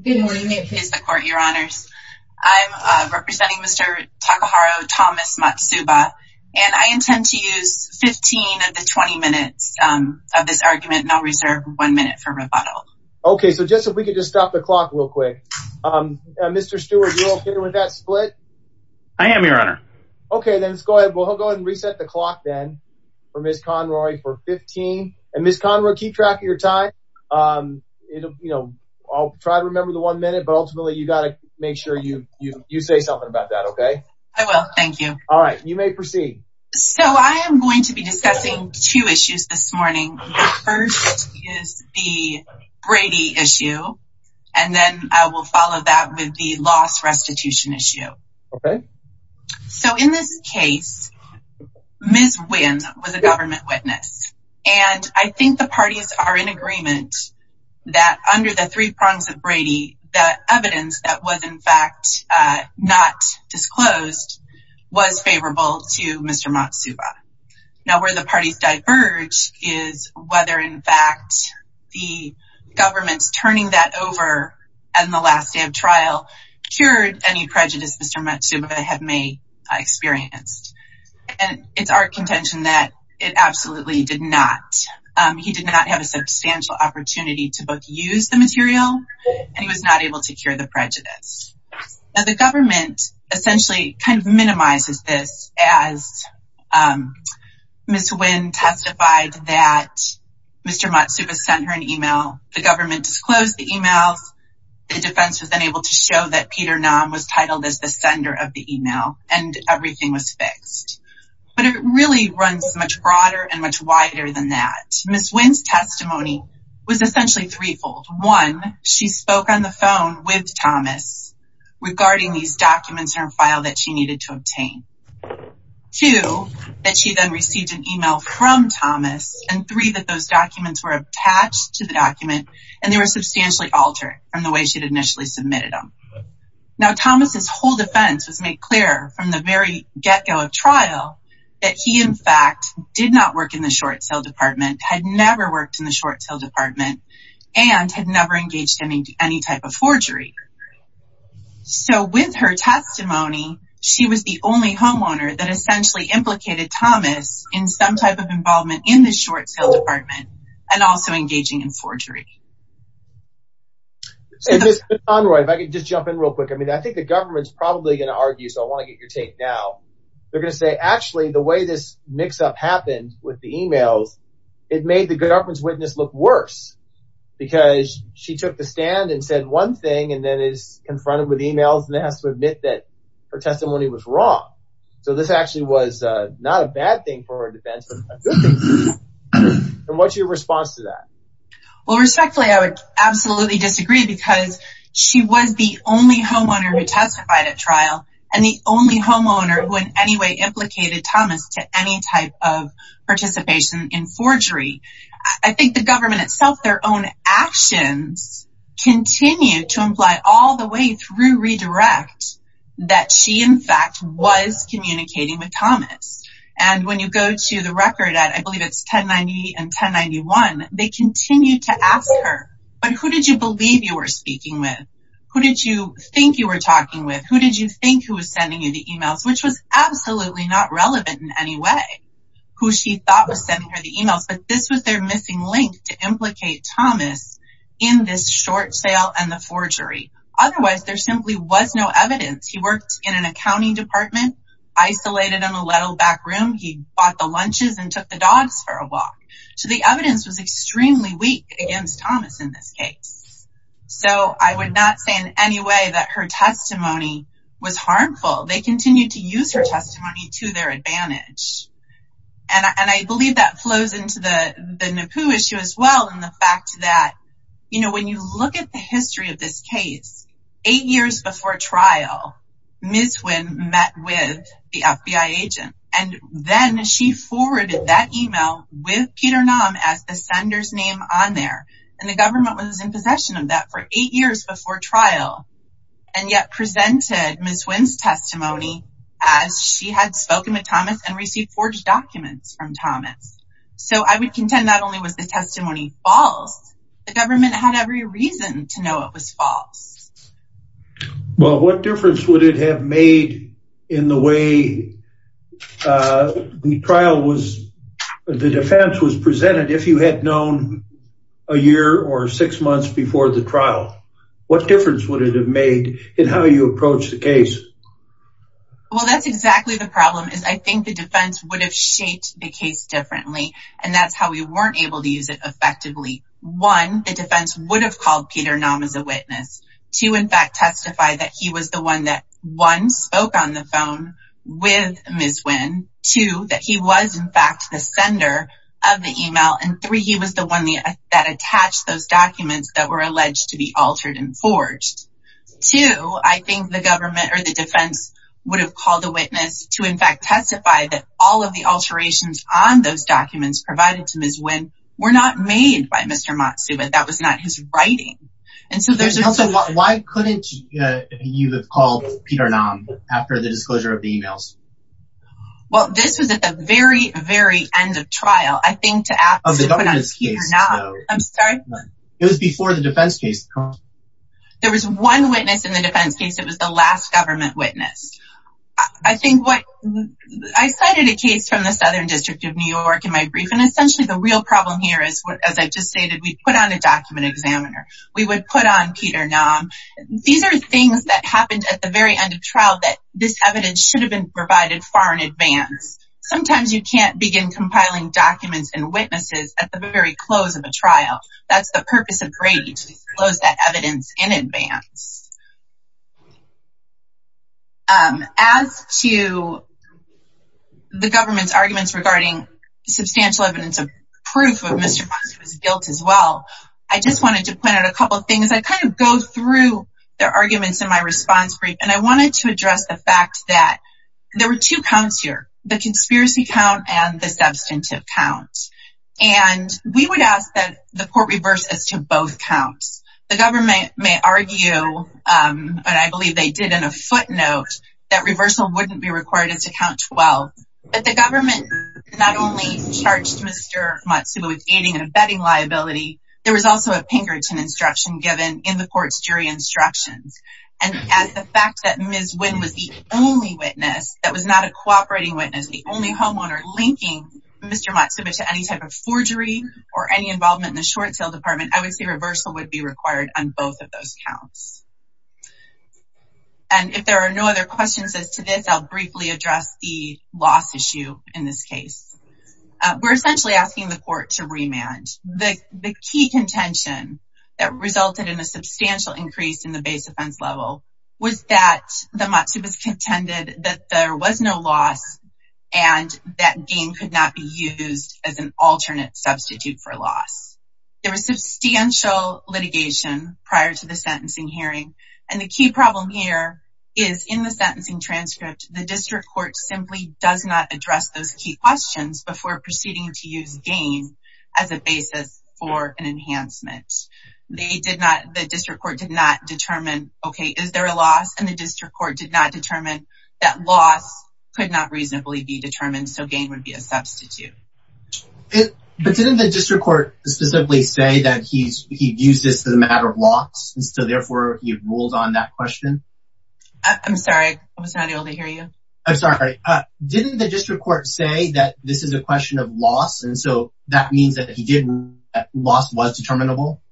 Good morning it is the court your honors. I'm representing Mr. Takaharo Thomas Matsuba and I intend to use 15 of the 20 minutes of this argument and I'll reserve one minute for rebuttal. Okay so just if we could just stop the clock real quick. Mr. Stewart you're okay with that split? I am your honor. Okay then let's go ahead we'll go ahead and reset the clock then for Ms. Conroy for 15 and Ms. Conroy keep track of your time. I'll try to remember one minute but ultimately you got to make sure you you say something about that okay. I will thank you. All right you may proceed. So I am going to be discussing two issues this morning. The first is the Brady issue and then I will follow that with the loss restitution issue. Okay so in this case Ms. Wynn was a government witness and I think the parties are in agreement that under the three prongs of Brady that evidence that was in fact not disclosed was favorable to Mr. Matsuba. Now where the parties diverge is whether in fact the government's turning that over and the last day of trial cured any prejudice Mr. Matsuba had may experienced and it's our contention that it absolutely did not. He did not have substantial opportunity to both use the material and he was not able to cure the prejudice. Now the government essentially kind of minimizes this as Ms. Wynn testified that Mr. Matsuba sent her an email, the government disclosed the emails, the defense was unable to show that Peter Naum was titled as the sender of the email and everything was fixed. But it really runs much broader and much wider than that. Ms. Wynn's testimony was essentially threefold. One, she spoke on the phone with Thomas regarding these documents in her file that she needed to obtain. Two, that she then received an email from Thomas and three, that those documents were attached to the document and they were substantially altered from the way she'd initially submitted them. Now Thomas's whole defense was made clear from the very get-go of trial that he in fact did not work in the short sale department, had never worked in the short sale department and had never engaged in any type of forgery. So with her testimony she was the only homeowner that essentially implicated Thomas in some type of involvement in the short sale department and also engaging in forgery. And Ms. McConroy, if I could just jump in real quick, I mean I think the government's probably going to argue, so I want to get your take now, they're going to say actually the way this mix-up happened with the emails, it made the government's witness look worse because she took the stand and said one thing and then is confronted with emails and has to admit that her testimony was wrong. So this actually was not a bad thing for her defense and what's your response to that? Well respectfully I would absolutely disagree because she was the only homeowner who testified at trial and the only homeowner who in any way implicated Thomas to any type of participation in forgery. I think the government itself, their own actions continue to imply all the way through redirect that she in fact was communicating with Thomas. And when you go to the record at, I believe it's 1090 and 1091, they continue to ask her, but who did you believe you were speaking with? Who did you think you were talking with? Who did you think who was sending you the emails? Which was absolutely not relevant in any way, who she thought was sending her the emails, but this was their missing link to implicate Thomas in this short sale and the forgery. Otherwise there simply was no evidence. He worked in an accounting department, isolated in a little back room. He bought the lunches and took the dogs for a walk. So the evidence was extremely weak against Thomas in this case. So I would not say in any way that her testimony was harmful. They continue to use her testimony to their advantage. And I believe that flows into the NAPU issue as well. And the fact that, you know, when you look at the history of this case, eight years before trial, Ms. Nguyen met with the FBI agent and then she forwarded that email with Peter Nam as the sender's name on there. And the government was in possession of that for eight years before trial and yet presented Ms. Nguyen's testimony as she had spoken with Thomas and received forged documents from Thomas. So I would contend that was the testimony false. The government had every reason to know it was false. Well, what difference would it have made in the way the trial was, the defense was presented if you had known a year or six months before the trial? What difference would it have made in how you approach the case? Well, that's exactly the problem is I think the defense would have case differently and that's how we weren't able to use it effectively. One, the defense would have called Peter Nam as a witness to in fact testify that he was the one that one, spoke on the phone with Ms. Nguyen. Two, that he was in fact the sender of the email. And three, he was the one that attached those documents that were alleged to be altered and forged. Two, I think the government or the defense would have called the witness to in fact testify that all of the alterations on those documents provided to Ms. Nguyen were not made by Mr. Matsu but that was not his writing. And so there's also, why couldn't you have called Peter Nam after the disclosure of the emails? Well, this was at the very, very end of trial. I think to ask, I'm sorry, it was before the defense case. There was one witness in the defense case. It was the last government witness. I think what, I cited a case from the Southern District of New York in my brief and essentially the real problem here is what, as I just stated, we put on a document examiner. We would put on Peter Nam. These are things that happened at the very end of trial that this evidence should have been provided far in advance. Sometimes you can't begin compiling documents and witnesses at the very close of a trial. That's the purpose of Brady to disclose that evidence in advance. As to the government's arguments regarding substantial evidence of proof of Mr. Matsu's guilt as well, I just wanted to point out a couple of things. I kind of go through their arguments in my response brief and I wanted to address the fact that there were two counts and we would ask that the court reverse as to both counts. The government may argue, and I believe they did in a footnote, that reversal wouldn't be required as to count 12. But the government not only charged Mr. Matsu with aiding and abetting liability, there was also a Pinkerton instruction given in the court's jury instructions. And as the fact that Ms. Wynn was the only witness that was not a cooperating witness, the only homeowner linking Mr. Matsu to any type of forgery or any involvement in the short sale department, I would say reversal would be required on both of those counts. And if there are no other questions as to this, I'll briefly address the loss issue in this case. We're essentially asking the court to remand. The key contention that resulted in a substantial increase in the base offense level was that the Matsu's contended that there was no loss and that gain could not be used as an alternate substitute for loss. There was substantial litigation prior to the sentencing hearing and the key problem here is in the sentencing transcript, the district court simply does not address those key questions before proceeding to use gain as a basis for an enhancement. The district court did not determine, okay, is there a loss? And the district court did not determine that loss could not reasonably be determined, so gain would be a substitute. But didn't the district court specifically say that he'd used this as a matter of loss, and so therefore he ruled on that question? I'm sorry, I was not able to hear you. I'm sorry. Didn't the district court say that this is a question of loss, and so that means that he did rule that loss was determinable?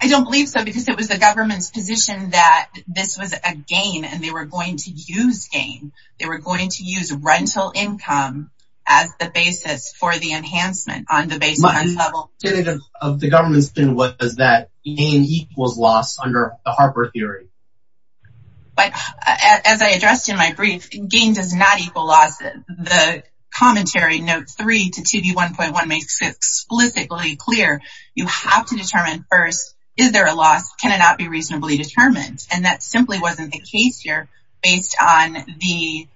I don't believe so, because it was the government's position that this was a gain, and they were going to use gain. They were going to use rental income as the basis for the enhancement on the base level. Of the government's opinion, what does that mean? He was lost under the Harper theory. But as I addressed in my brief, gain does not equal loss. The commentary note three to TV 1.1 makes it explicitly clear you have to determine first, is there a loss? Can it not be reasonably determined? And that simply wasn't the case here based on the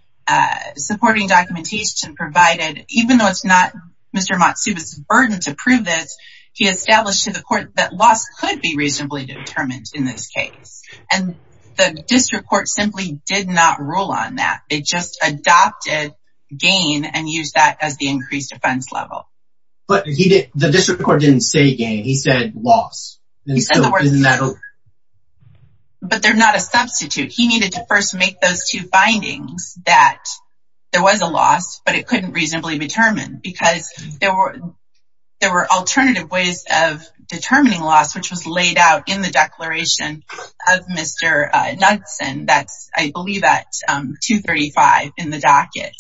supporting documentation provided. Even though it's not Mr. Matsuba's burden to prove this, he established to the court that loss could be reasonably determined in this case. And the district court simply did not rule on that. It just adopted gain and used that as the increased offense level. But the district court didn't say gain. He said loss. But they're not a substitute. He needed to first make those two findings that there was a loss, but it couldn't reasonably be determined because there were alternative ways of determining loss, which was laid out in the declaration of Mr. Knudsen. That's, I believe, at 235 in the docket.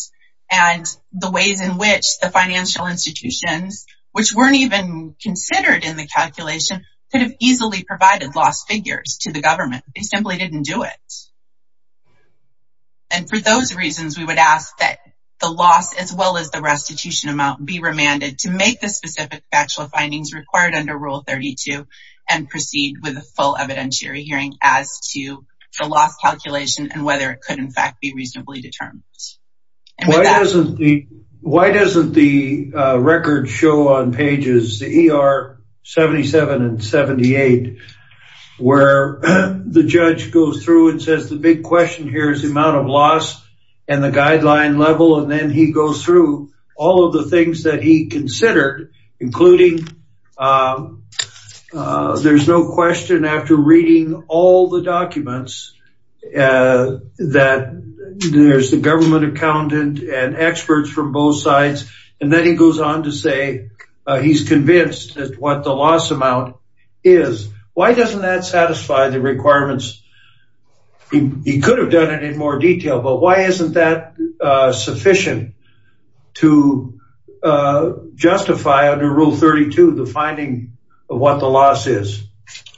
And the ways in which the financial institutions, which weren't even considered in the calculation, could have easily provided lost figures to the government. They simply didn't do it. And for those reasons, we would ask that the loss as well as the restitution amount be remanded to the district court to make the specific factual findings required under Rule 32 and proceed with a full evidentiary hearing as to the loss calculation and whether it could, in fact, be reasonably determined. Why doesn't the record show on pages, the ER 77 and 78, where the judge goes through and says the big question here is the amount of loss and the guideline level. And then he goes through all of the things that he considered, including there's no question after reading all the documents that there's the government accountant and experts from both sides. And then he goes on to say he's convinced that what the loss amount is. Why doesn't that satisfy the requirements? He could have done it in more detail, but why isn't that sufficient to justify under Rule 32 the finding of what the loss is?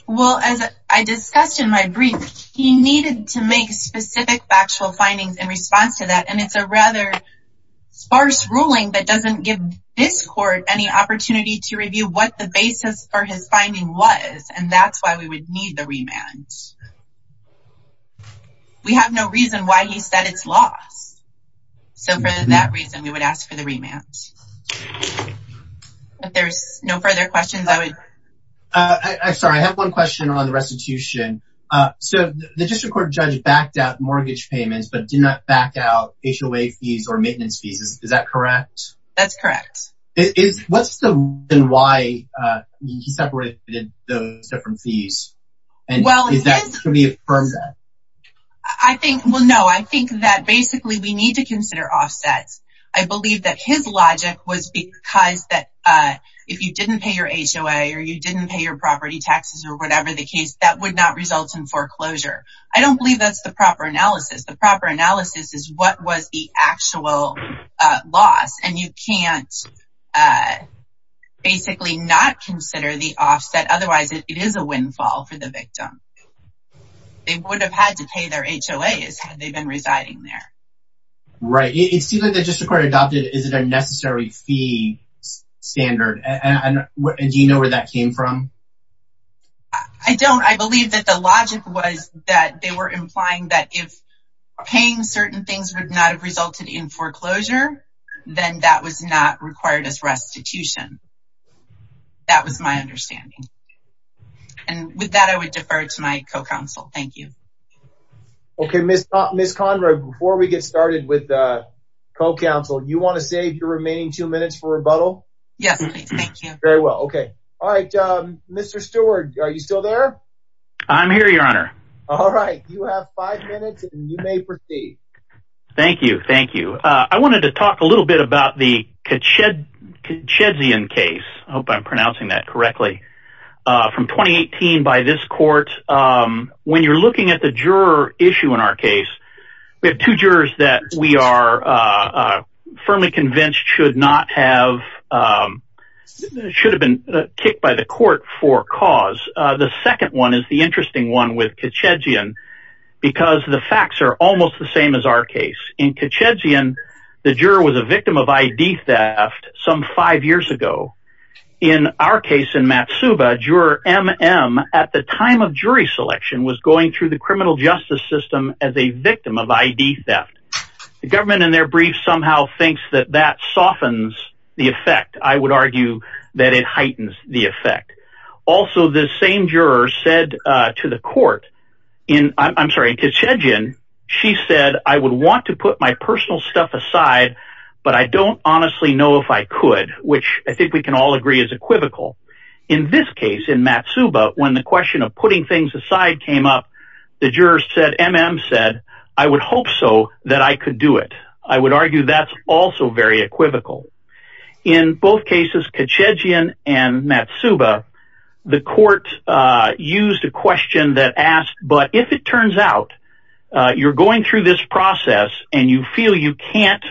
Well, as I discussed in my brief, he needed to make specific factual findings in response to that. And it's a rather sparse ruling that doesn't give this court any opportunity to review what the basis for his finding was. And that's why we would need the remand. We have no reason why he said it's loss. So, for that reason, we would ask for the remand. If there's no further questions, I would. I'm sorry. I have one question on the restitution. So, the district court judge backed out mortgage payments, but did not back out HOA fees or maintenance fees. Is that correct? That's correct. Is what's the reason why he separated those different fees? Well, I think, well, no, I think that basically we need to consider offsets. I believe that his logic was because that if you didn't pay your HOA or you didn't pay your property taxes or whatever the case, that would not result in foreclosure. I don't believe that's the proper analysis. The proper analysis is what was the actual loss. And you can't basically not consider the offset. Otherwise, it is a windfall for the victim. They would have had to pay their HOAs had they been residing there. Right. It seems like the district court adopted is it a necessary fee standard? And do you know where that came from? I don't. I believe that the logic was that they were implying that if paying certain things would not have resulted in foreclosure, then that was not required as restitution. That was my understanding. And with that, I would defer to my co-counsel. Thank you. Okay, Miss Conrad, before we get started with co-counsel, you want to save your remaining two minutes for rebuttal? Yes, please. Thank you. Very well. Okay. All right. Mr. Stewart, are you still there? I'm here, Your Honor. All right. You have five minutes and you may proceed. Thank you. Thank you. I wanted to talk a little bit about the Katshedzian case. I hope I'm pronouncing that correctly. From 2018, by this court, when you're looking at the juror issue in our case, we have two jurors that we are firmly convinced should not have should have been kicked by the court for cause. The second one is the interesting one with Katshedzian because the facts are almost the same as our case. In Katshedzian, the juror was a victim of I.D. theft some five years ago. In our case in Matsuba, juror M.M. at the time of jury selection was going through the criminal justice system as a victim of I.D. theft. The government in their brief somehow thinks that that softens the effect. I would In Katshedzian, she said, I would want to put my personal stuff aside, but I don't honestly know if I could, which I think we can all agree is equivocal. In this case, in Matsuba, when the question of putting things aside came up, the juror said, M.M. said, I would hope so that I could do it. I would argue that's also very equivocal. In both cases, Katshedzian and Matsuba, the court used a question that asked, but if it turns out you're going through this process and you feel you can't,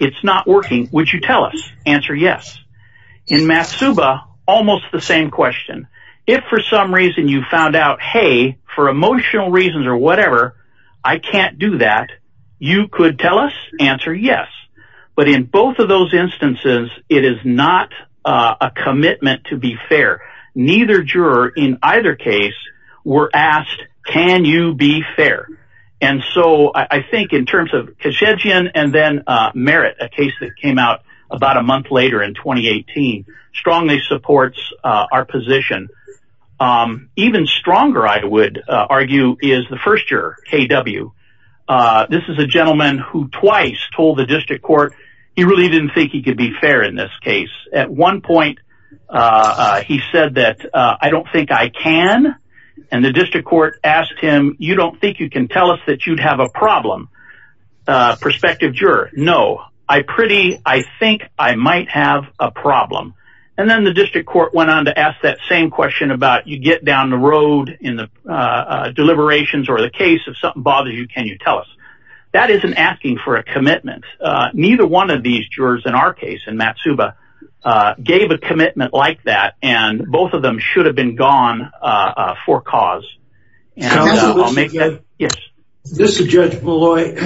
it's not working, would you tell us? Answer yes. In Matsuba, almost the same question. If for some reason you found out, hey, for emotional reasons or whatever, I can't do that, you could tell us? Answer yes. But in both of those instances, it is not a commitment to be fair. Neither juror in either case were asked, can you be fair? And so I think in terms of Katshedzian and then Merritt, a case that came out about a month later in 2018, strongly supports our position. Even stronger, I would argue, is the first juror, K.W. This is a gentleman who twice told the district court he really didn't think he could be fair in this case at one point. He said that, I don't think I can. And the district court asked him, you don't think you can tell us that you'd have a problem? Perspective juror, no, I pretty, I think I might have a problem. And then the district court went on to ask that same question about you get down the road in the deliberations or the case of something bothers you, can you tell us? That isn't asking for a commitment. Neither one of these jurors in our case in Matsuba gave a commitment like that. And both of them should have been gone for cause. This is Judge Molloy.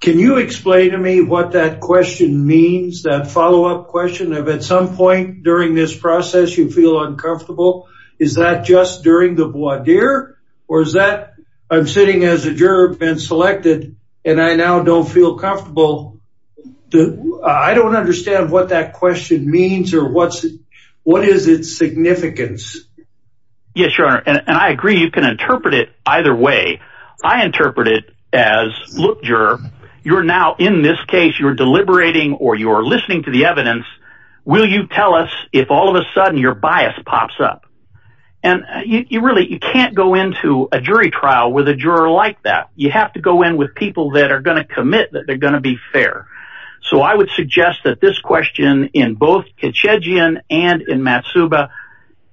Can you explain to me what that question means, that follow up question of at some point during this process, you feel uncomfortable? Is that just during the voir dire? Or is that I'm sitting as a juror been selected, and I now don't feel comfortable. The I don't understand what that question means, or what's, what is its significance? Yes, sure. And I agree, you can interpret it either way. I interpret it as look, you're, you're now in this case, you're deliberating or you're listening to the evidence. Will you tell us if all of a sudden your bias pops up? And you really you can't go into a jury trial with a juror like that. You have to go in with people that are going to commit that they're fair. So I would suggest that this question in both Kitchijian and in Matsuba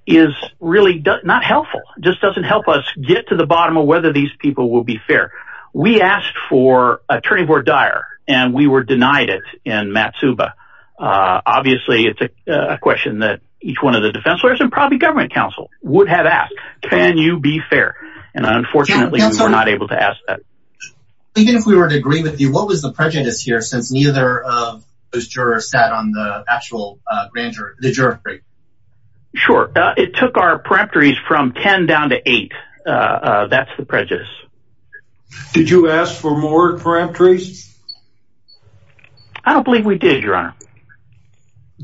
is really not helpful, just doesn't help us get to the bottom of whether these people will be fair. We asked for a jury voir dire, and we were denied it in Matsuba. Obviously, it's a question that each one of the defense lawyers and probably government counsel would have asked, can you be fair? And unfortunately, we're not able to ask that. Even if we were to agree with you, what was the prejudice here since neither of those jurors sat on the actual grand jury? Sure, it took our parametries from 10 down to eight. That's the prejudice. Did you ask for more parametries? I don't believe we did, Your Honor.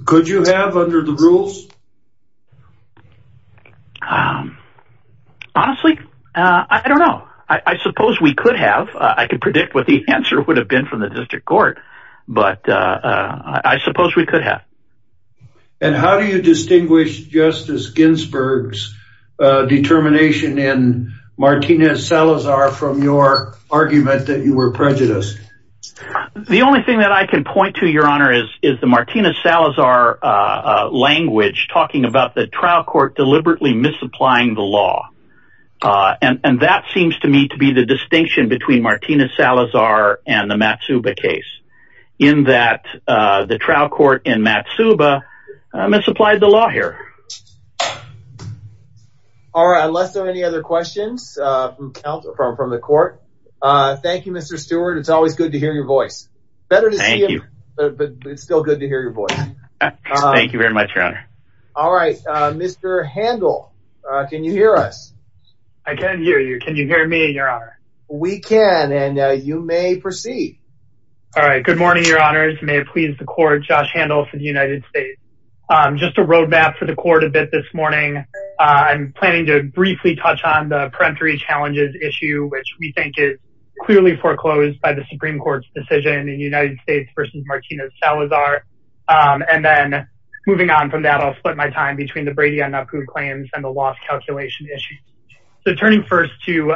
Could you have under the rules? Honestly, I don't know. I suppose we could have, I could predict what the answer would have been from the district court. But I suppose we could have. And how do you distinguish Justice Ginsburg's determination in Martinez-Salazar from your argument that you were prejudiced? The only thing that I can point to, Your Honor, is the Martinez-Salazar language talking about the trial court deliberately misapplying the law. And that seems to me to be the distinction between Martinez-Salazar and the Matsuba case, in that the trial court in Matsuba misapplied the law here. All right, unless there are any other questions from the court. Thank you, Mr. Stewart. It's always good to hear your voice. Better to see you, but it's still good to hear your voice. Thank you very much, Your Honor. All right, Mr. Handel, can you hear us? I can hear you. Can you hear me, Your Honor? We can, and you may proceed. All right, good morning, Your Honors. May it please the court, Josh Handel for the United States. Just a roadmap for the court a bit this morning. I'm planning to briefly touch on the peremptory challenges issue, which we think is clearly foreclosed by the Supreme Court's decision in the United States versus Martinez-Salazar. And then moving on from that, I'll split my time between the Brady-Annapur claims and the loss calculation issue. So turning first to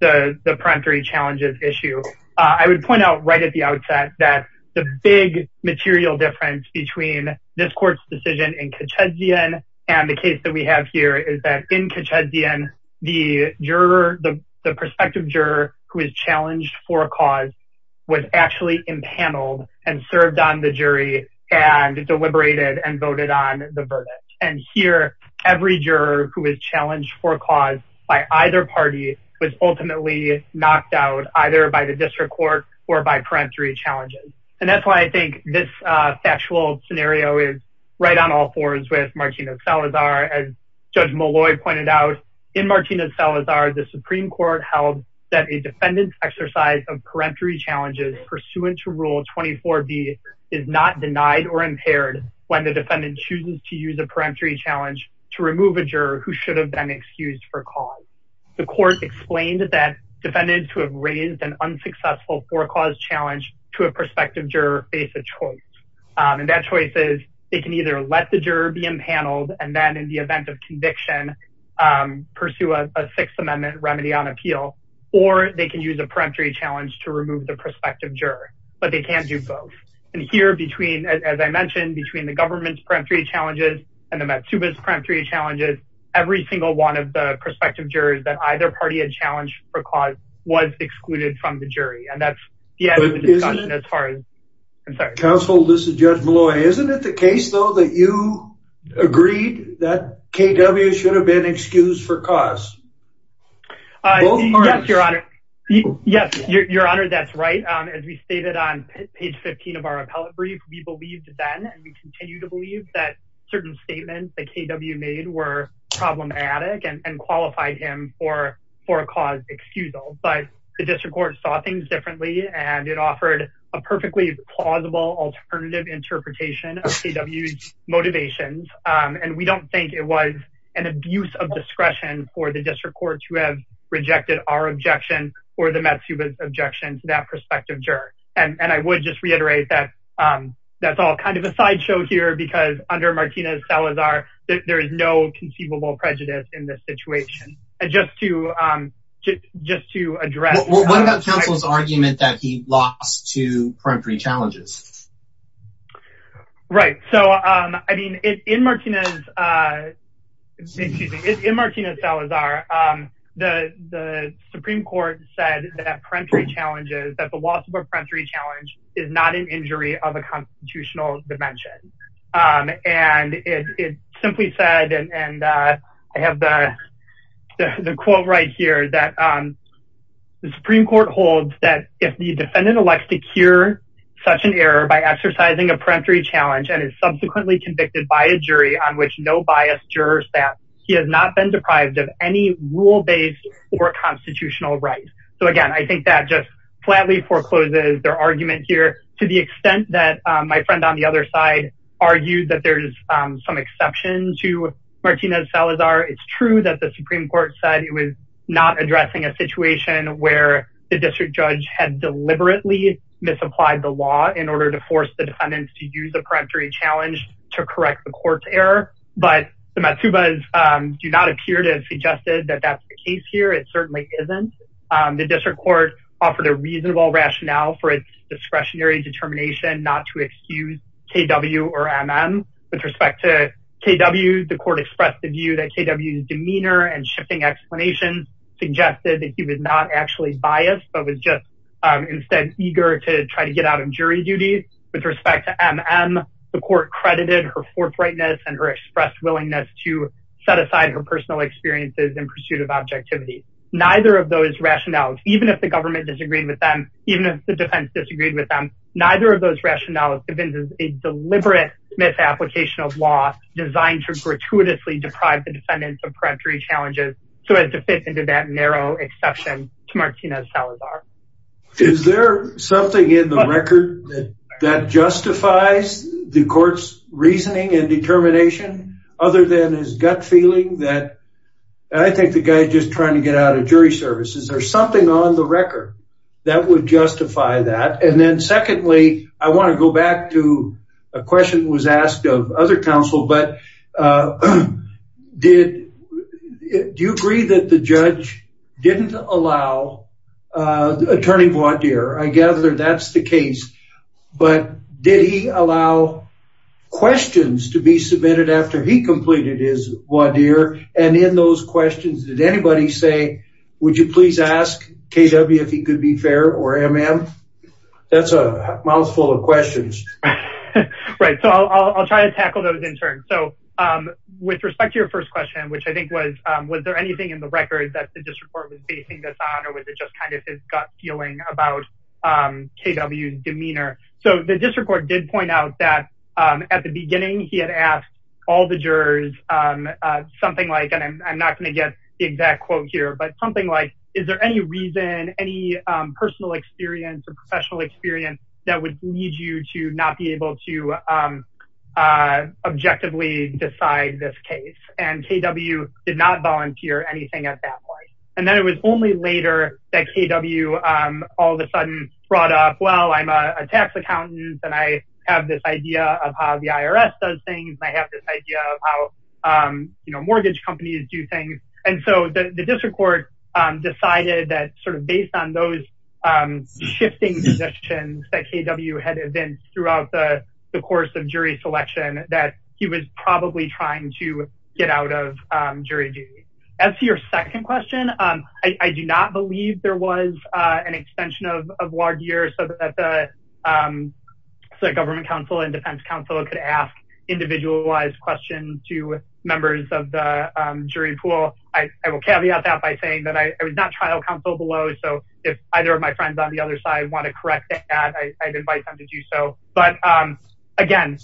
the peremptory challenges issue, I would point out right at the outset that the big material difference between this court's decision in Kitchezian and the case that we have here is that in Kitchezian, the juror, the prospective juror who is challenged for a cause was actually impaneled and served on the jury and deliberated and voted on the verdict. And here, every juror who is challenged for a cause by either party was ultimately knocked out either by the district court or by peremptory challenges. And that's why I think this factual scenario is right on all fours with Martinez-Salazar. As Judge Molloy pointed out, in Martinez-Salazar, the Supreme Court held that a defendant's exercise of peremptory challenges pursuant to Rule 24B is not denied or impaired when the defendant chooses to use a peremptory challenge to remove a juror who should have been excused for a cause. The court explained that defendants who have raised an unsuccessful forecaused challenge to a prospective juror face a choice. And that choice is they can either let the juror be impaneled. And then in the event of conviction, pursue a Sixth Amendment remedy on appeal. Or they can use a peremptory challenge to remove the prospective juror. But they can't do both. And here between, as I mentioned, between the government's peremptory challenges and the Matsuba's peremptory challenges, every single one of the prospective jurors that either party had challenged for cause was excluded from the jury. And that's the end of the discussion as far as... Counsel, this is Judge Molloy. Isn't it the case, though, that you agreed that K.W. should have been excused for cause? Yes, Your Honor. Yes, Your Honor, that's right. As we stated on page 15 of our appellate brief, we believed then and we continue to believe that certain statements that K.W. made were problematic and qualified him for a cause excusal. But the district court saw things motivations and we don't think it was an abuse of discretion for the district courts who have rejected our objection or the Matsuba's objection to that prospective juror. And I would just reiterate that that's all kind of a sideshow here because under Martinez-Salazar, there is no conceivable prejudice in this situation. And just to address... What about counsel's argument that he lost to peremptory challenges? Right. So, I mean, in Martinez-Salazar, the Supreme Court said that peremptory challenges, that the loss of a peremptory challenge is not an injury of a constitutional dimension. And it simply said, and I have the quote right here, that the Supreme Court holds that if the defendant elects to cure such an error by exercising a peremptory challenge and is subsequently convicted by a jury on which no biased jurors pass, he has not been deprived of any rule-based or constitutional rights. So again, I think that just flatly forecloses their argument here to the extent that my friend on the other side argued that there's some exceptions to Martinez-Salazar. It's true that the Supreme Court said it was not addressing a situation where the district judge had deliberately misapplied the law in order to force the defendants to use a peremptory challenge to correct the court's error, but the Matsubas do not appear to have suggested that that's the case here. It certainly isn't. The district court offered a reasonable rationale for its discretionary determination not to excuse KW or MM. With respect to KW, the court expressed the view that KW's demeanor and shifting explanation suggested that he was not actually biased, but was just instead eager to try to get out of jury duty. With respect to MM, the court credited her forthrightness and her expressed willingness to set aside her personal experiences in pursuit of objectivity. Neither of those rationales, even if the government disagreed with them, even if the defense disagreed with them, neither of those rationales have been a deliberate misapplication of law designed to gratuitously deprive the defendants of peremptory challenges so as to fit into that narrow exception to Martinez-Salazar. Is there something in the record that justifies the court's reasoning and determination other than his gut feeling that, I think the guy just trying to get out of jury service, is there something on the record that would justify that? And then I want to go back to a question that was asked of other counsel, but do you agree that the judge didn't allow attorney voir dire? I gather that's the case, but did he allow questions to be submitted after he completed his voir dire? And in those questions, did anybody say, would you please ask KW if he could be fair or MM? That's a mouthful of questions. Right, so I'll try to tackle those in turn. So with respect to your first question, which I think was, was there anything in the record that the district court was basing this on, or was it just kind of his gut feeling about KW's demeanor? So the district court did point out that at the beginning, he had asked all the jurors something like, and I'm not going to get the is there any reason, any personal experience or professional experience that would lead you to not be able to objectively decide this case? And KW did not volunteer anything at that point. And then it was only later that KW all of a sudden brought up, well, I'm a tax accountant, and I have this idea of how the IRS does things. I have this idea of how mortgage companies do things. And so the district court decided that sort of based on those shifting positions that KW had events throughout the course of jury selection, that he was probably trying to get out of jury duty. As to your second question, I do not believe there was an extension of voir dire so that the government council and defense council could ask individualized questions to members of the jury pool. I will caveat that by saying that I was not trial counsel below. So if either of my friends on the other side want to correct that, I'd invite them to do so. But again,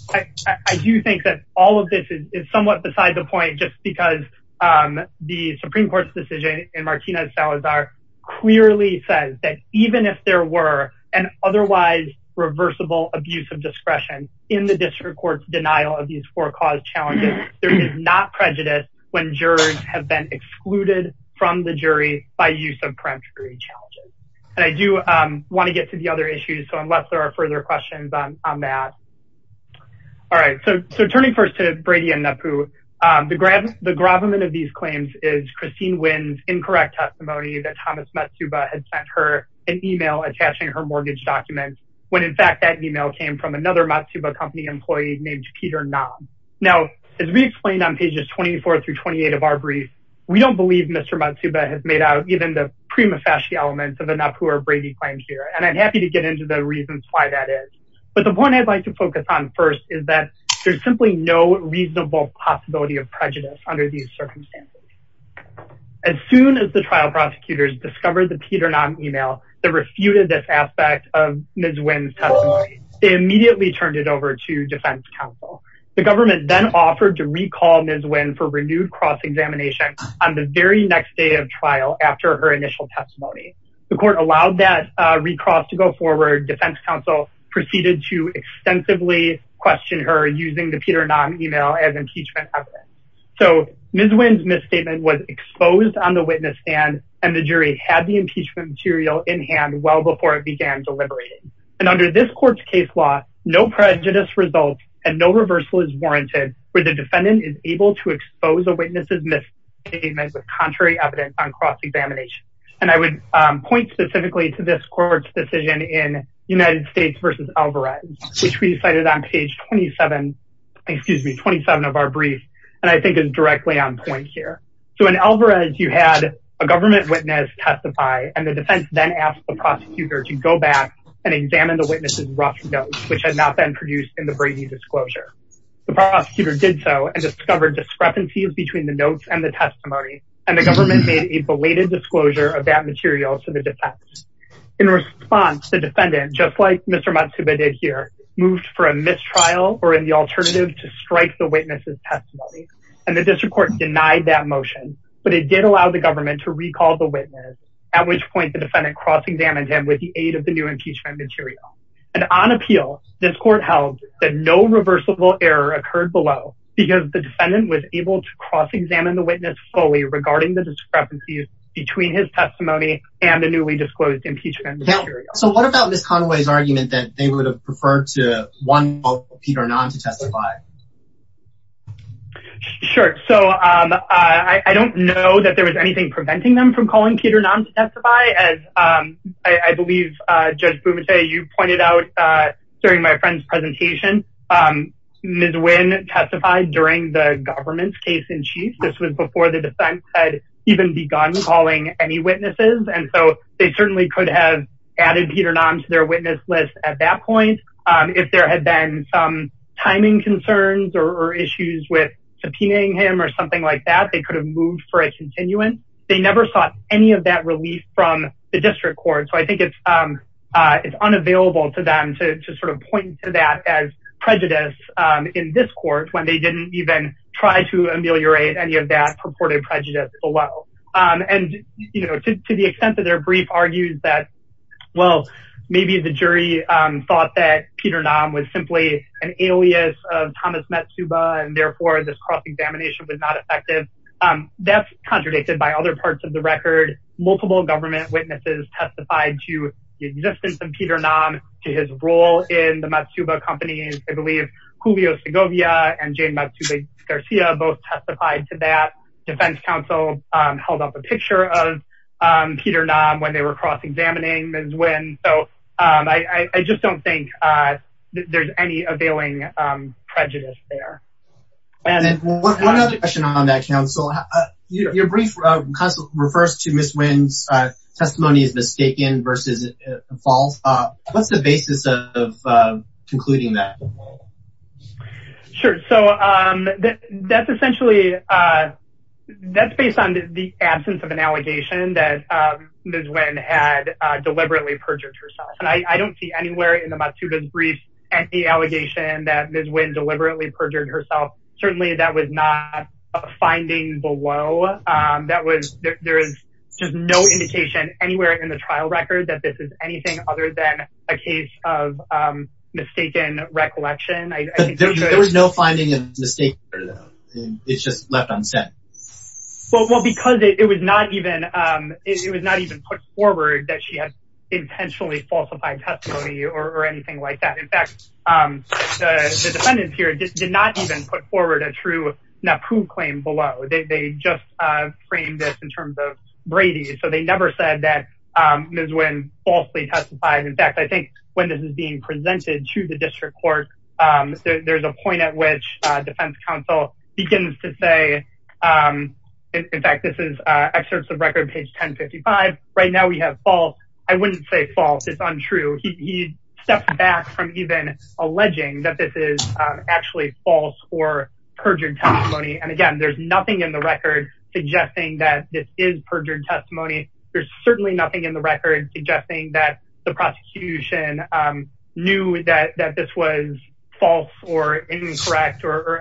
I do think that all of this is somewhat beside the point, just because the Supreme Court's decision in Martinez-Salazar clearly says that even if there were an otherwise reversible abuse of discretion in the district court's denial of these four cause challenges, there is not prejudice when jurors have been excluded from the jury by use of peremptory challenges. And I do want to get to the other issues, so unless there are further questions on that. All right, so turning first to Brady and Napu, the gravamen of these claims is Christine Wynn's incorrect testimony that Thomas Matsuba had sent her an email attaching her mortgage documents, when in fact that email came from another Matsuba company employee named Peter Nam. Now, as we explained on pages 24 through 28 of our brief, we don't believe Mr. Matsuba has made out even the prima facie elements of the Napu or Brady claims here, and I'm happy to get into the reasons why that is. But the point I'd like to focus on first is that there's simply no reasonable possibility of prejudice under these circumstances. As soon as the trial prosecutors discovered the Peter Nam email that refuted this aspect of Ms. Wynn's testimony, they immediately turned it over to defense counsel. The government then offered to recall Ms. Wynn for renewed cross-examination on the very next day of trial after her initial testimony. The court allowed that recross to go forward. Defense counsel proceeded to extensively question her using the Peter Nam email as impeachment evidence. So Ms. Wynn's misstatement was exposed on the witness stand, and the jury had the impeachment material in hand well before it began deliberating. Under this court's case law, no prejudice result and no reversal is warranted where the defendant is able to expose a witness's misstatement with contrary evidence on cross-examination. And I would point specifically to this court's decision in United States v. Alvarez, which we cited on page 27 of our brief, and I think is directly on point here. So in Alvarez, you had a government witness testify, and the defense then asked the prosecutor to go back and examine the witness's rough notes, which had not been produced in the Brady disclosure. The prosecutor did so and discovered discrepancies between the notes and the testimony, and the government made a belated disclosure of that material to the defense. In response, the defendant, just like Mr. Matsuba did here, moved for a mistrial or in the alternative to strike the witness's testimony. And the district court denied that motion, but it did allow the recall the witness, at which point the defendant cross-examined him with the aid of the new impeachment material. And on appeal, this court held that no reversible error occurred below, because the defendant was able to cross-examine the witness fully regarding the discrepancies between his testimony and the newly disclosed impeachment material. So what about Ms. Conway's argument that they would have preferred to Peter Nahm to testify? Sure. So I don't know that there was anything preventing them from calling Peter Nahm to testify. As I believe Judge Boumetier, you pointed out during my friend's presentation, Ms. Nguyen testified during the government's case-in-chief. This was before the defense had even begun calling any witnesses. And so they certainly could have added Peter Nahm to their timing concerns or issues with subpoenaing him or something like that. They could have moved for a continuance. They never sought any of that relief from the district court. So I think it's unavailable to them to point to that as prejudice in this court when they didn't even try to ameliorate any of that purported prejudice below. And to the extent that their brief argues that, maybe the jury thought that Peter Nahm was simply an alias of Thomas Matsuba, and therefore this cross-examination was not effective. That's contradicted by other parts of the record. Multiple government witnesses testified to the existence of Peter Nahm, to his role in the Matsuba company. I believe Julio Segovia and Jane Matsuba Garcia both testified to that. Defense counsel held up a picture of Peter Nahm when they were cross-examining Ms. Nguyen. So I just don't think there's any availing prejudice there. And then one other question on that, counsel. Your brief refers to Ms. Nguyen's testimony as mistaken versus false. What's the basis of concluding that? Sure. So that's essentially, that's based on the absence of an allegation that Ms. Nguyen had deliberately perjured herself. And I don't see anywhere in the Matsuba's brief any allegation that Ms. Nguyen deliberately perjured herself. Certainly that was not a finding below. That was, there is just no indication anywhere in the trial record that this is anything other than a case of mistaken recollection. There was no finding of mistake. It's just left unsaid. Well, because it was not even put forward that she had intentionally falsified testimony or anything like that. In fact, the defendants here did not even put forward a true NAPU claim below. They just framed this in terms of Brady. So they never said that Ms. Nguyen falsely testified. In fact, I think when this is being presented to the district court, there's a point at which defense counsel begins to say, in fact, this is excerpts of record page 1055. Right now we have false. I wouldn't say false. It's untrue. He stepped back from even alleging that this is actually false or perjured testimony. And again, there's nothing in the record suggesting that this is perjured testimony. There's certainly nothing in the record suggesting that the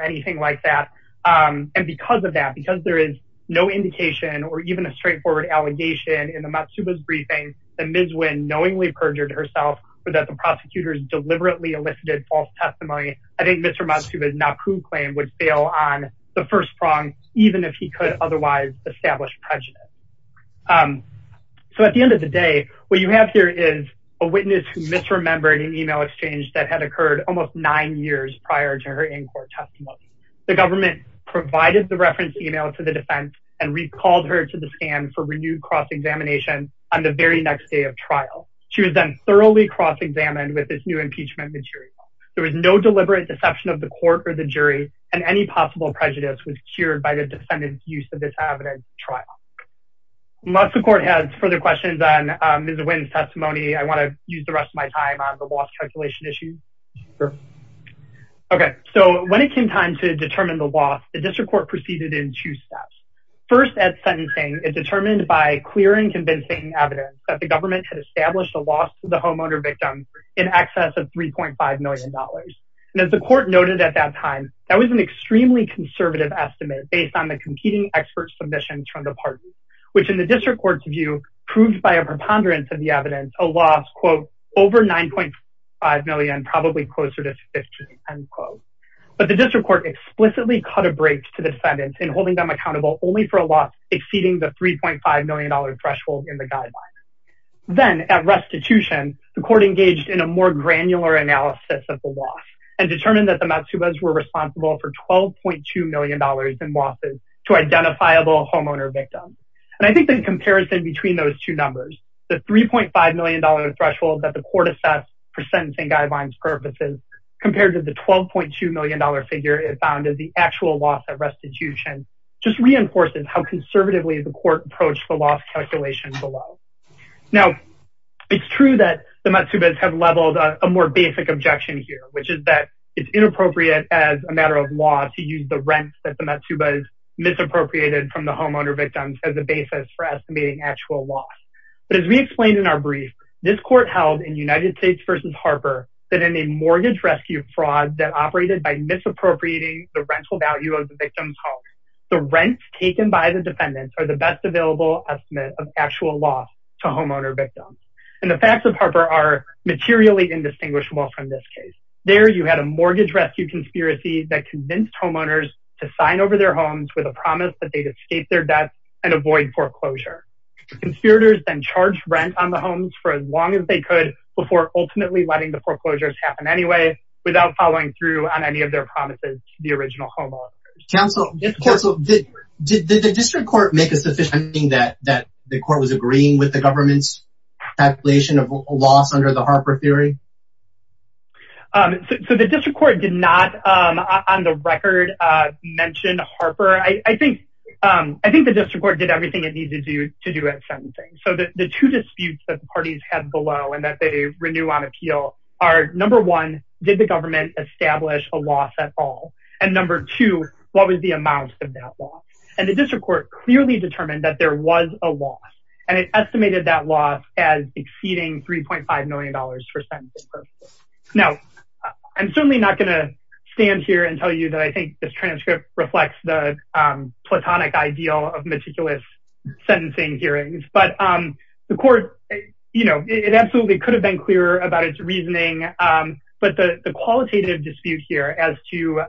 anything like that. And because of that, because there is no indication or even a straightforward allegation in the Matsuba's briefing that Ms. Nguyen knowingly perjured herself or that the prosecutors deliberately elicited false testimony. I think Mr. Matsuba's NAPU claim would fail on the first prong, even if he could otherwise establish prejudice. So at the end of the day, what you have here is a witness who misremembered an email exchange that had occurred almost nine years prior to her in-court testimony. The government provided the reference email to the defense and recalled her to the stand for renewed cross-examination on the very next day of trial. She was then thoroughly cross-examined with this new impeachment material. There was no deliberate deception of the court or the jury and any possible prejudice was cured by the defendant's use of this evidence trial. Unless the court has further questions on Ms. Nguyen's testimony, I want to use the rest of my time on the loss calculation issue. Sure. Okay. So when it came time to determine the loss, the district court proceeded in two steps. First at sentencing, it determined by clear and convincing evidence that the government had established a loss to the homeowner victim in excess of $3.5 million. And as the court noted at that time, that was an extremely conservative estimate based on the competing experts submissions from the parties, which in the district court's view proved by a preponderance of the evidence, a loss, quote, over $9.5 million, probably closer to 50, end quote. But the district court explicitly cut a break to defendants in holding them accountable only for a loss exceeding the $3.5 million threshold in the guidelines. Then at restitution, the court engaged in a more granular analysis of the loss and determined that the Matsubas were responsible for $12.2 million in losses to identifiable homeowner victims. And I think the comparison between those two numbers, the $3.5 million threshold that the court assessed for sentencing guidelines purposes compared to the $12.2 million figure it found as the actual loss at restitution just reinforces how conservatively the court approached the loss calculation below. Now it's true that the Matsubas have leveled a more basic objection here, which is that it's inappropriate as a matter of law to use the rent that the Matsuba misappropriated from the homeowner victims as a basis for estimating actual loss. But as we explained in our brief, this court held in United States v. Harper that in a mortgage rescue fraud that operated by misappropriating the rental value of the victim's home, the rents taken by the defendants are the best available estimate of actual loss to homeowner victims. And the facts of Harper are materially indistinguishable from this case. There you had a mortgage rescue conspiracy that convinced homeowners to sign over their homes with a promise that they'd escape their debts and avoid foreclosure. Conspirators then charged rent on the homes for as long as they could before ultimately letting the foreclosures happen anyway without following through on any of their promises to the original homeowners. Counsel, did the district court make a sufficient that the court was agreeing with the government's calculation of loss under the Harper theory? So the district court did not, on the record, mention Harper. I think the district court did everything it needed to do to do at sentencing. So the two disputes that the parties had below and that they renew on appeal are number one, did the government establish a loss at all? And number two, what was the amount of that loss? And the district court clearly determined that there was a loss. And it estimated that loss as exceeding $3.5 million for sentencing. Now, I'm certainly not going to stand here and tell you that I think this transcript reflects the platonic ideal of meticulous sentencing hearings. But the court, it absolutely could have been clearer about its reasoning. But the qualitative dispute here as to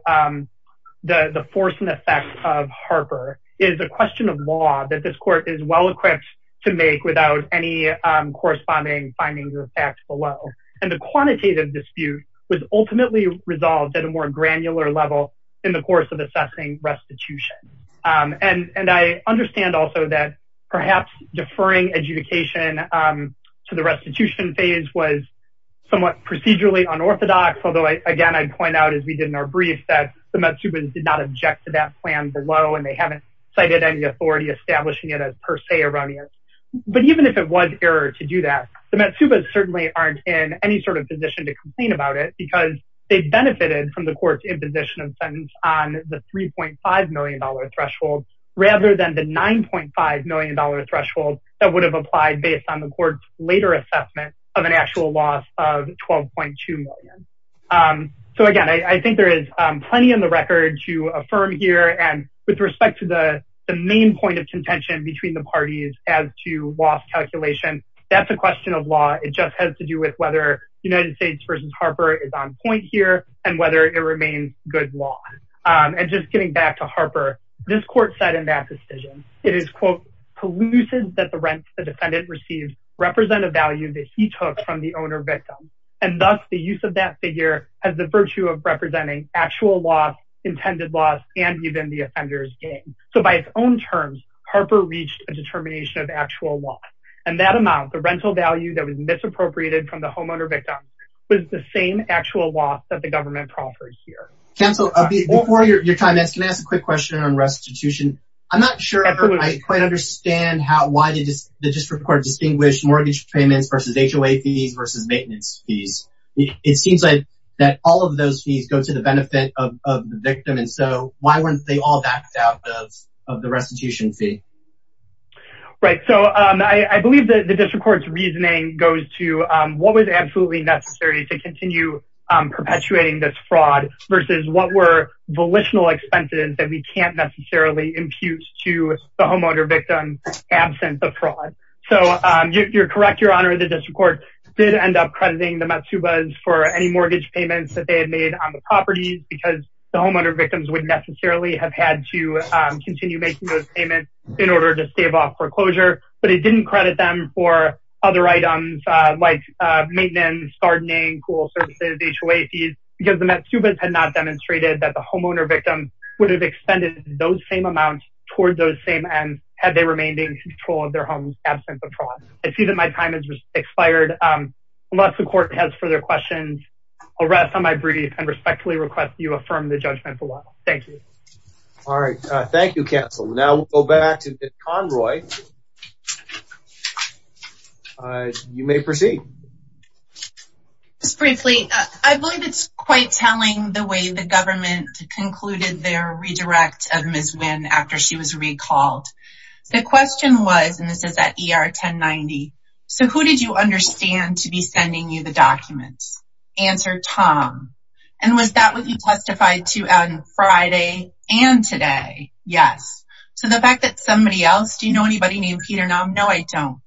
the force and effect of Harper is a question of law that this court is well-equipped to make without any quantitative dispute was ultimately resolved at a more granular level in the course of assessing restitution. And I understand also that perhaps deferring adjudication to the restitution phase was somewhat procedurally unorthodox. Although again, I'd point out as we did in our brief that the Matsubas did not object to that plan below and they haven't cited any authority establishing it as per se erroneous. But even if it was error to do that, the Matsubas certainly aren't in a position to complain about it because they benefited from the court's imposition of sentence on the $3.5 million threshold rather than the $9.5 million threshold that would have applied based on the court's later assessment of an actual loss of $12.2 million. So again, I think there is plenty in the record to affirm here. And with respect to the main point of contention between the parties as to loss calculation, that's a question of law. It just has to do with whether United States v. Harper is on point here and whether it remains good law. And just getting back to Harper, this court said in that decision, it is, quote, elusive that the rent the defendant received represent a value that he took from the owner victim. And thus the use of that figure has the virtue of representing actual loss, intended loss, and even the offender's gain. So by its own terms, Harper reached a determination of actual loss. And that amount, the rental value that was misappropriated from the homeowner victim, was the same actual loss that the government proffers here. Counsel, before your time ends, can I ask a quick question on restitution? I'm not sure I quite understand why the district court distinguished mortgage payments versus HOA fees versus maintenance fees. It seems like that all of those fees go to the benefit of the victim. And so why weren't they all backed out of the restitution fee? Right. So I believe that the district court's reasoning goes to what was absolutely necessary to continue perpetuating this fraud versus what were volitional expenses that we can't necessarily impute to the homeowner victim, absent the fraud. So you're correct, Your Honor, the district court did end up crediting the Matsubas for any mortgage payments that they had made on the property because the homeowner victims would necessarily have had to continue making those payments. In order to stave off foreclosure, but it didn't credit them for other items like maintenance, gardening, cool services, HOA fees, because the Matsubas had not demonstrated that the homeowner victim would have extended those same amounts toward those same ends had they remained in control of their homes, absent the fraud. I see that my time has expired. Unless the court has further questions, I'll rest on my brief and respectfully request you affirm the judgment for a while. Thank you. All right. Thank you, counsel. Now we'll go back to Ms. Conroy. You may proceed. Just briefly, I believe it's quite telling the way the government concluded their redirect of Ms. Wynn after she was recalled. The question was, and this is at ER 1090, so who did you understand to be sending you the documents? Answer, Tom. And was that what you said on Friday and today? Yes. So the fact that somebody else, do you know anybody named Peter? No, no, I don't.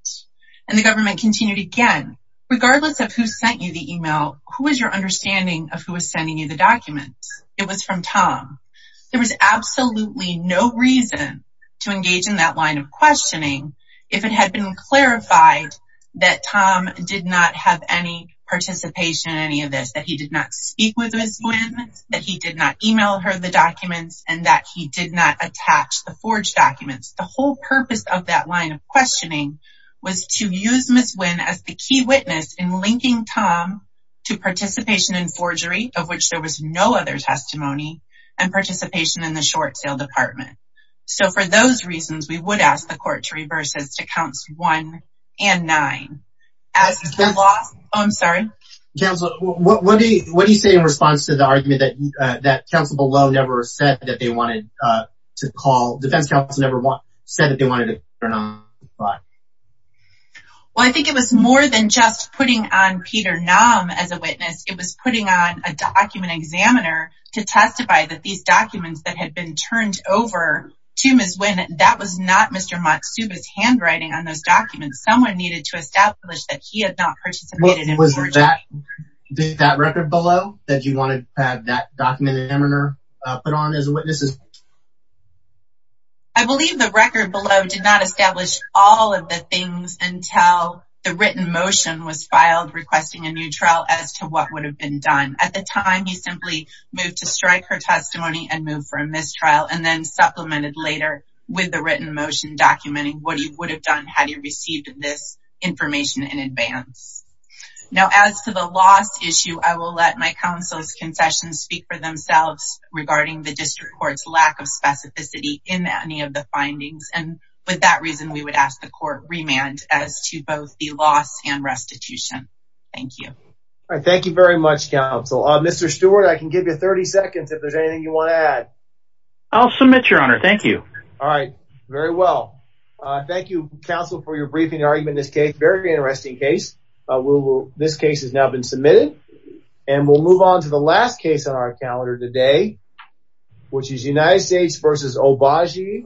And the government continued again, regardless of who sent you the email, who was your understanding of who was sending you the documents? It was from Tom. There was absolutely no reason to engage in that line of questioning if it had been clarified that Tom did not have any participation in any of this, that he did not speak with Ms. Wynn, that he did not email her the documents, and that he did not attach the forged documents. The whole purpose of that line of questioning was to use Ms. Wynn as the key witness in linking Tom to participation in forgery, of which there was no other testimony, and participation in the short sale department. So for those reasons, we would ask the court to reverse this to counts one and nine. I'm sorry. Counsel, what do you say in response to the argument that counsel below never said that they wanted to call, defense counsel never said that they wanted to turn on the clock? Well, I think it was more than just putting on Peter Nahm as a witness. It was putting on a document examiner to testify that these documents that had been turned over to Ms. Wynn, that was not Mr. Matsuba's handwriting on those documents. Someone needed to establish that he had not participated in forgery. Was that record below that you wanted to have that document examiner put on as a witness? I believe the record below did not establish all of the things until the written motion was filed requesting a new trial as to what would have been done. At the time, he simply moved to strike her testimony and moved for a mistrial, and then supplemented later with written motion documenting what he would have done had he received this information in advance. Now, as to the loss issue, I will let my counsel's concessions speak for themselves regarding the district court's lack of specificity in any of the findings. And with that reason, we would ask the court remand as to both the loss and restitution. Thank you. All right. Thank you very much, counsel. Mr. Stewart, I can give you 30 seconds if there's anything you want to add. I'll submit, your honor. Thank you. All right. Very well. Thank you, counsel, for your briefing argument in this case. Very interesting case. This case has now been submitted, and we'll move on to the last case on our calendar today, which is United States v. Obagi.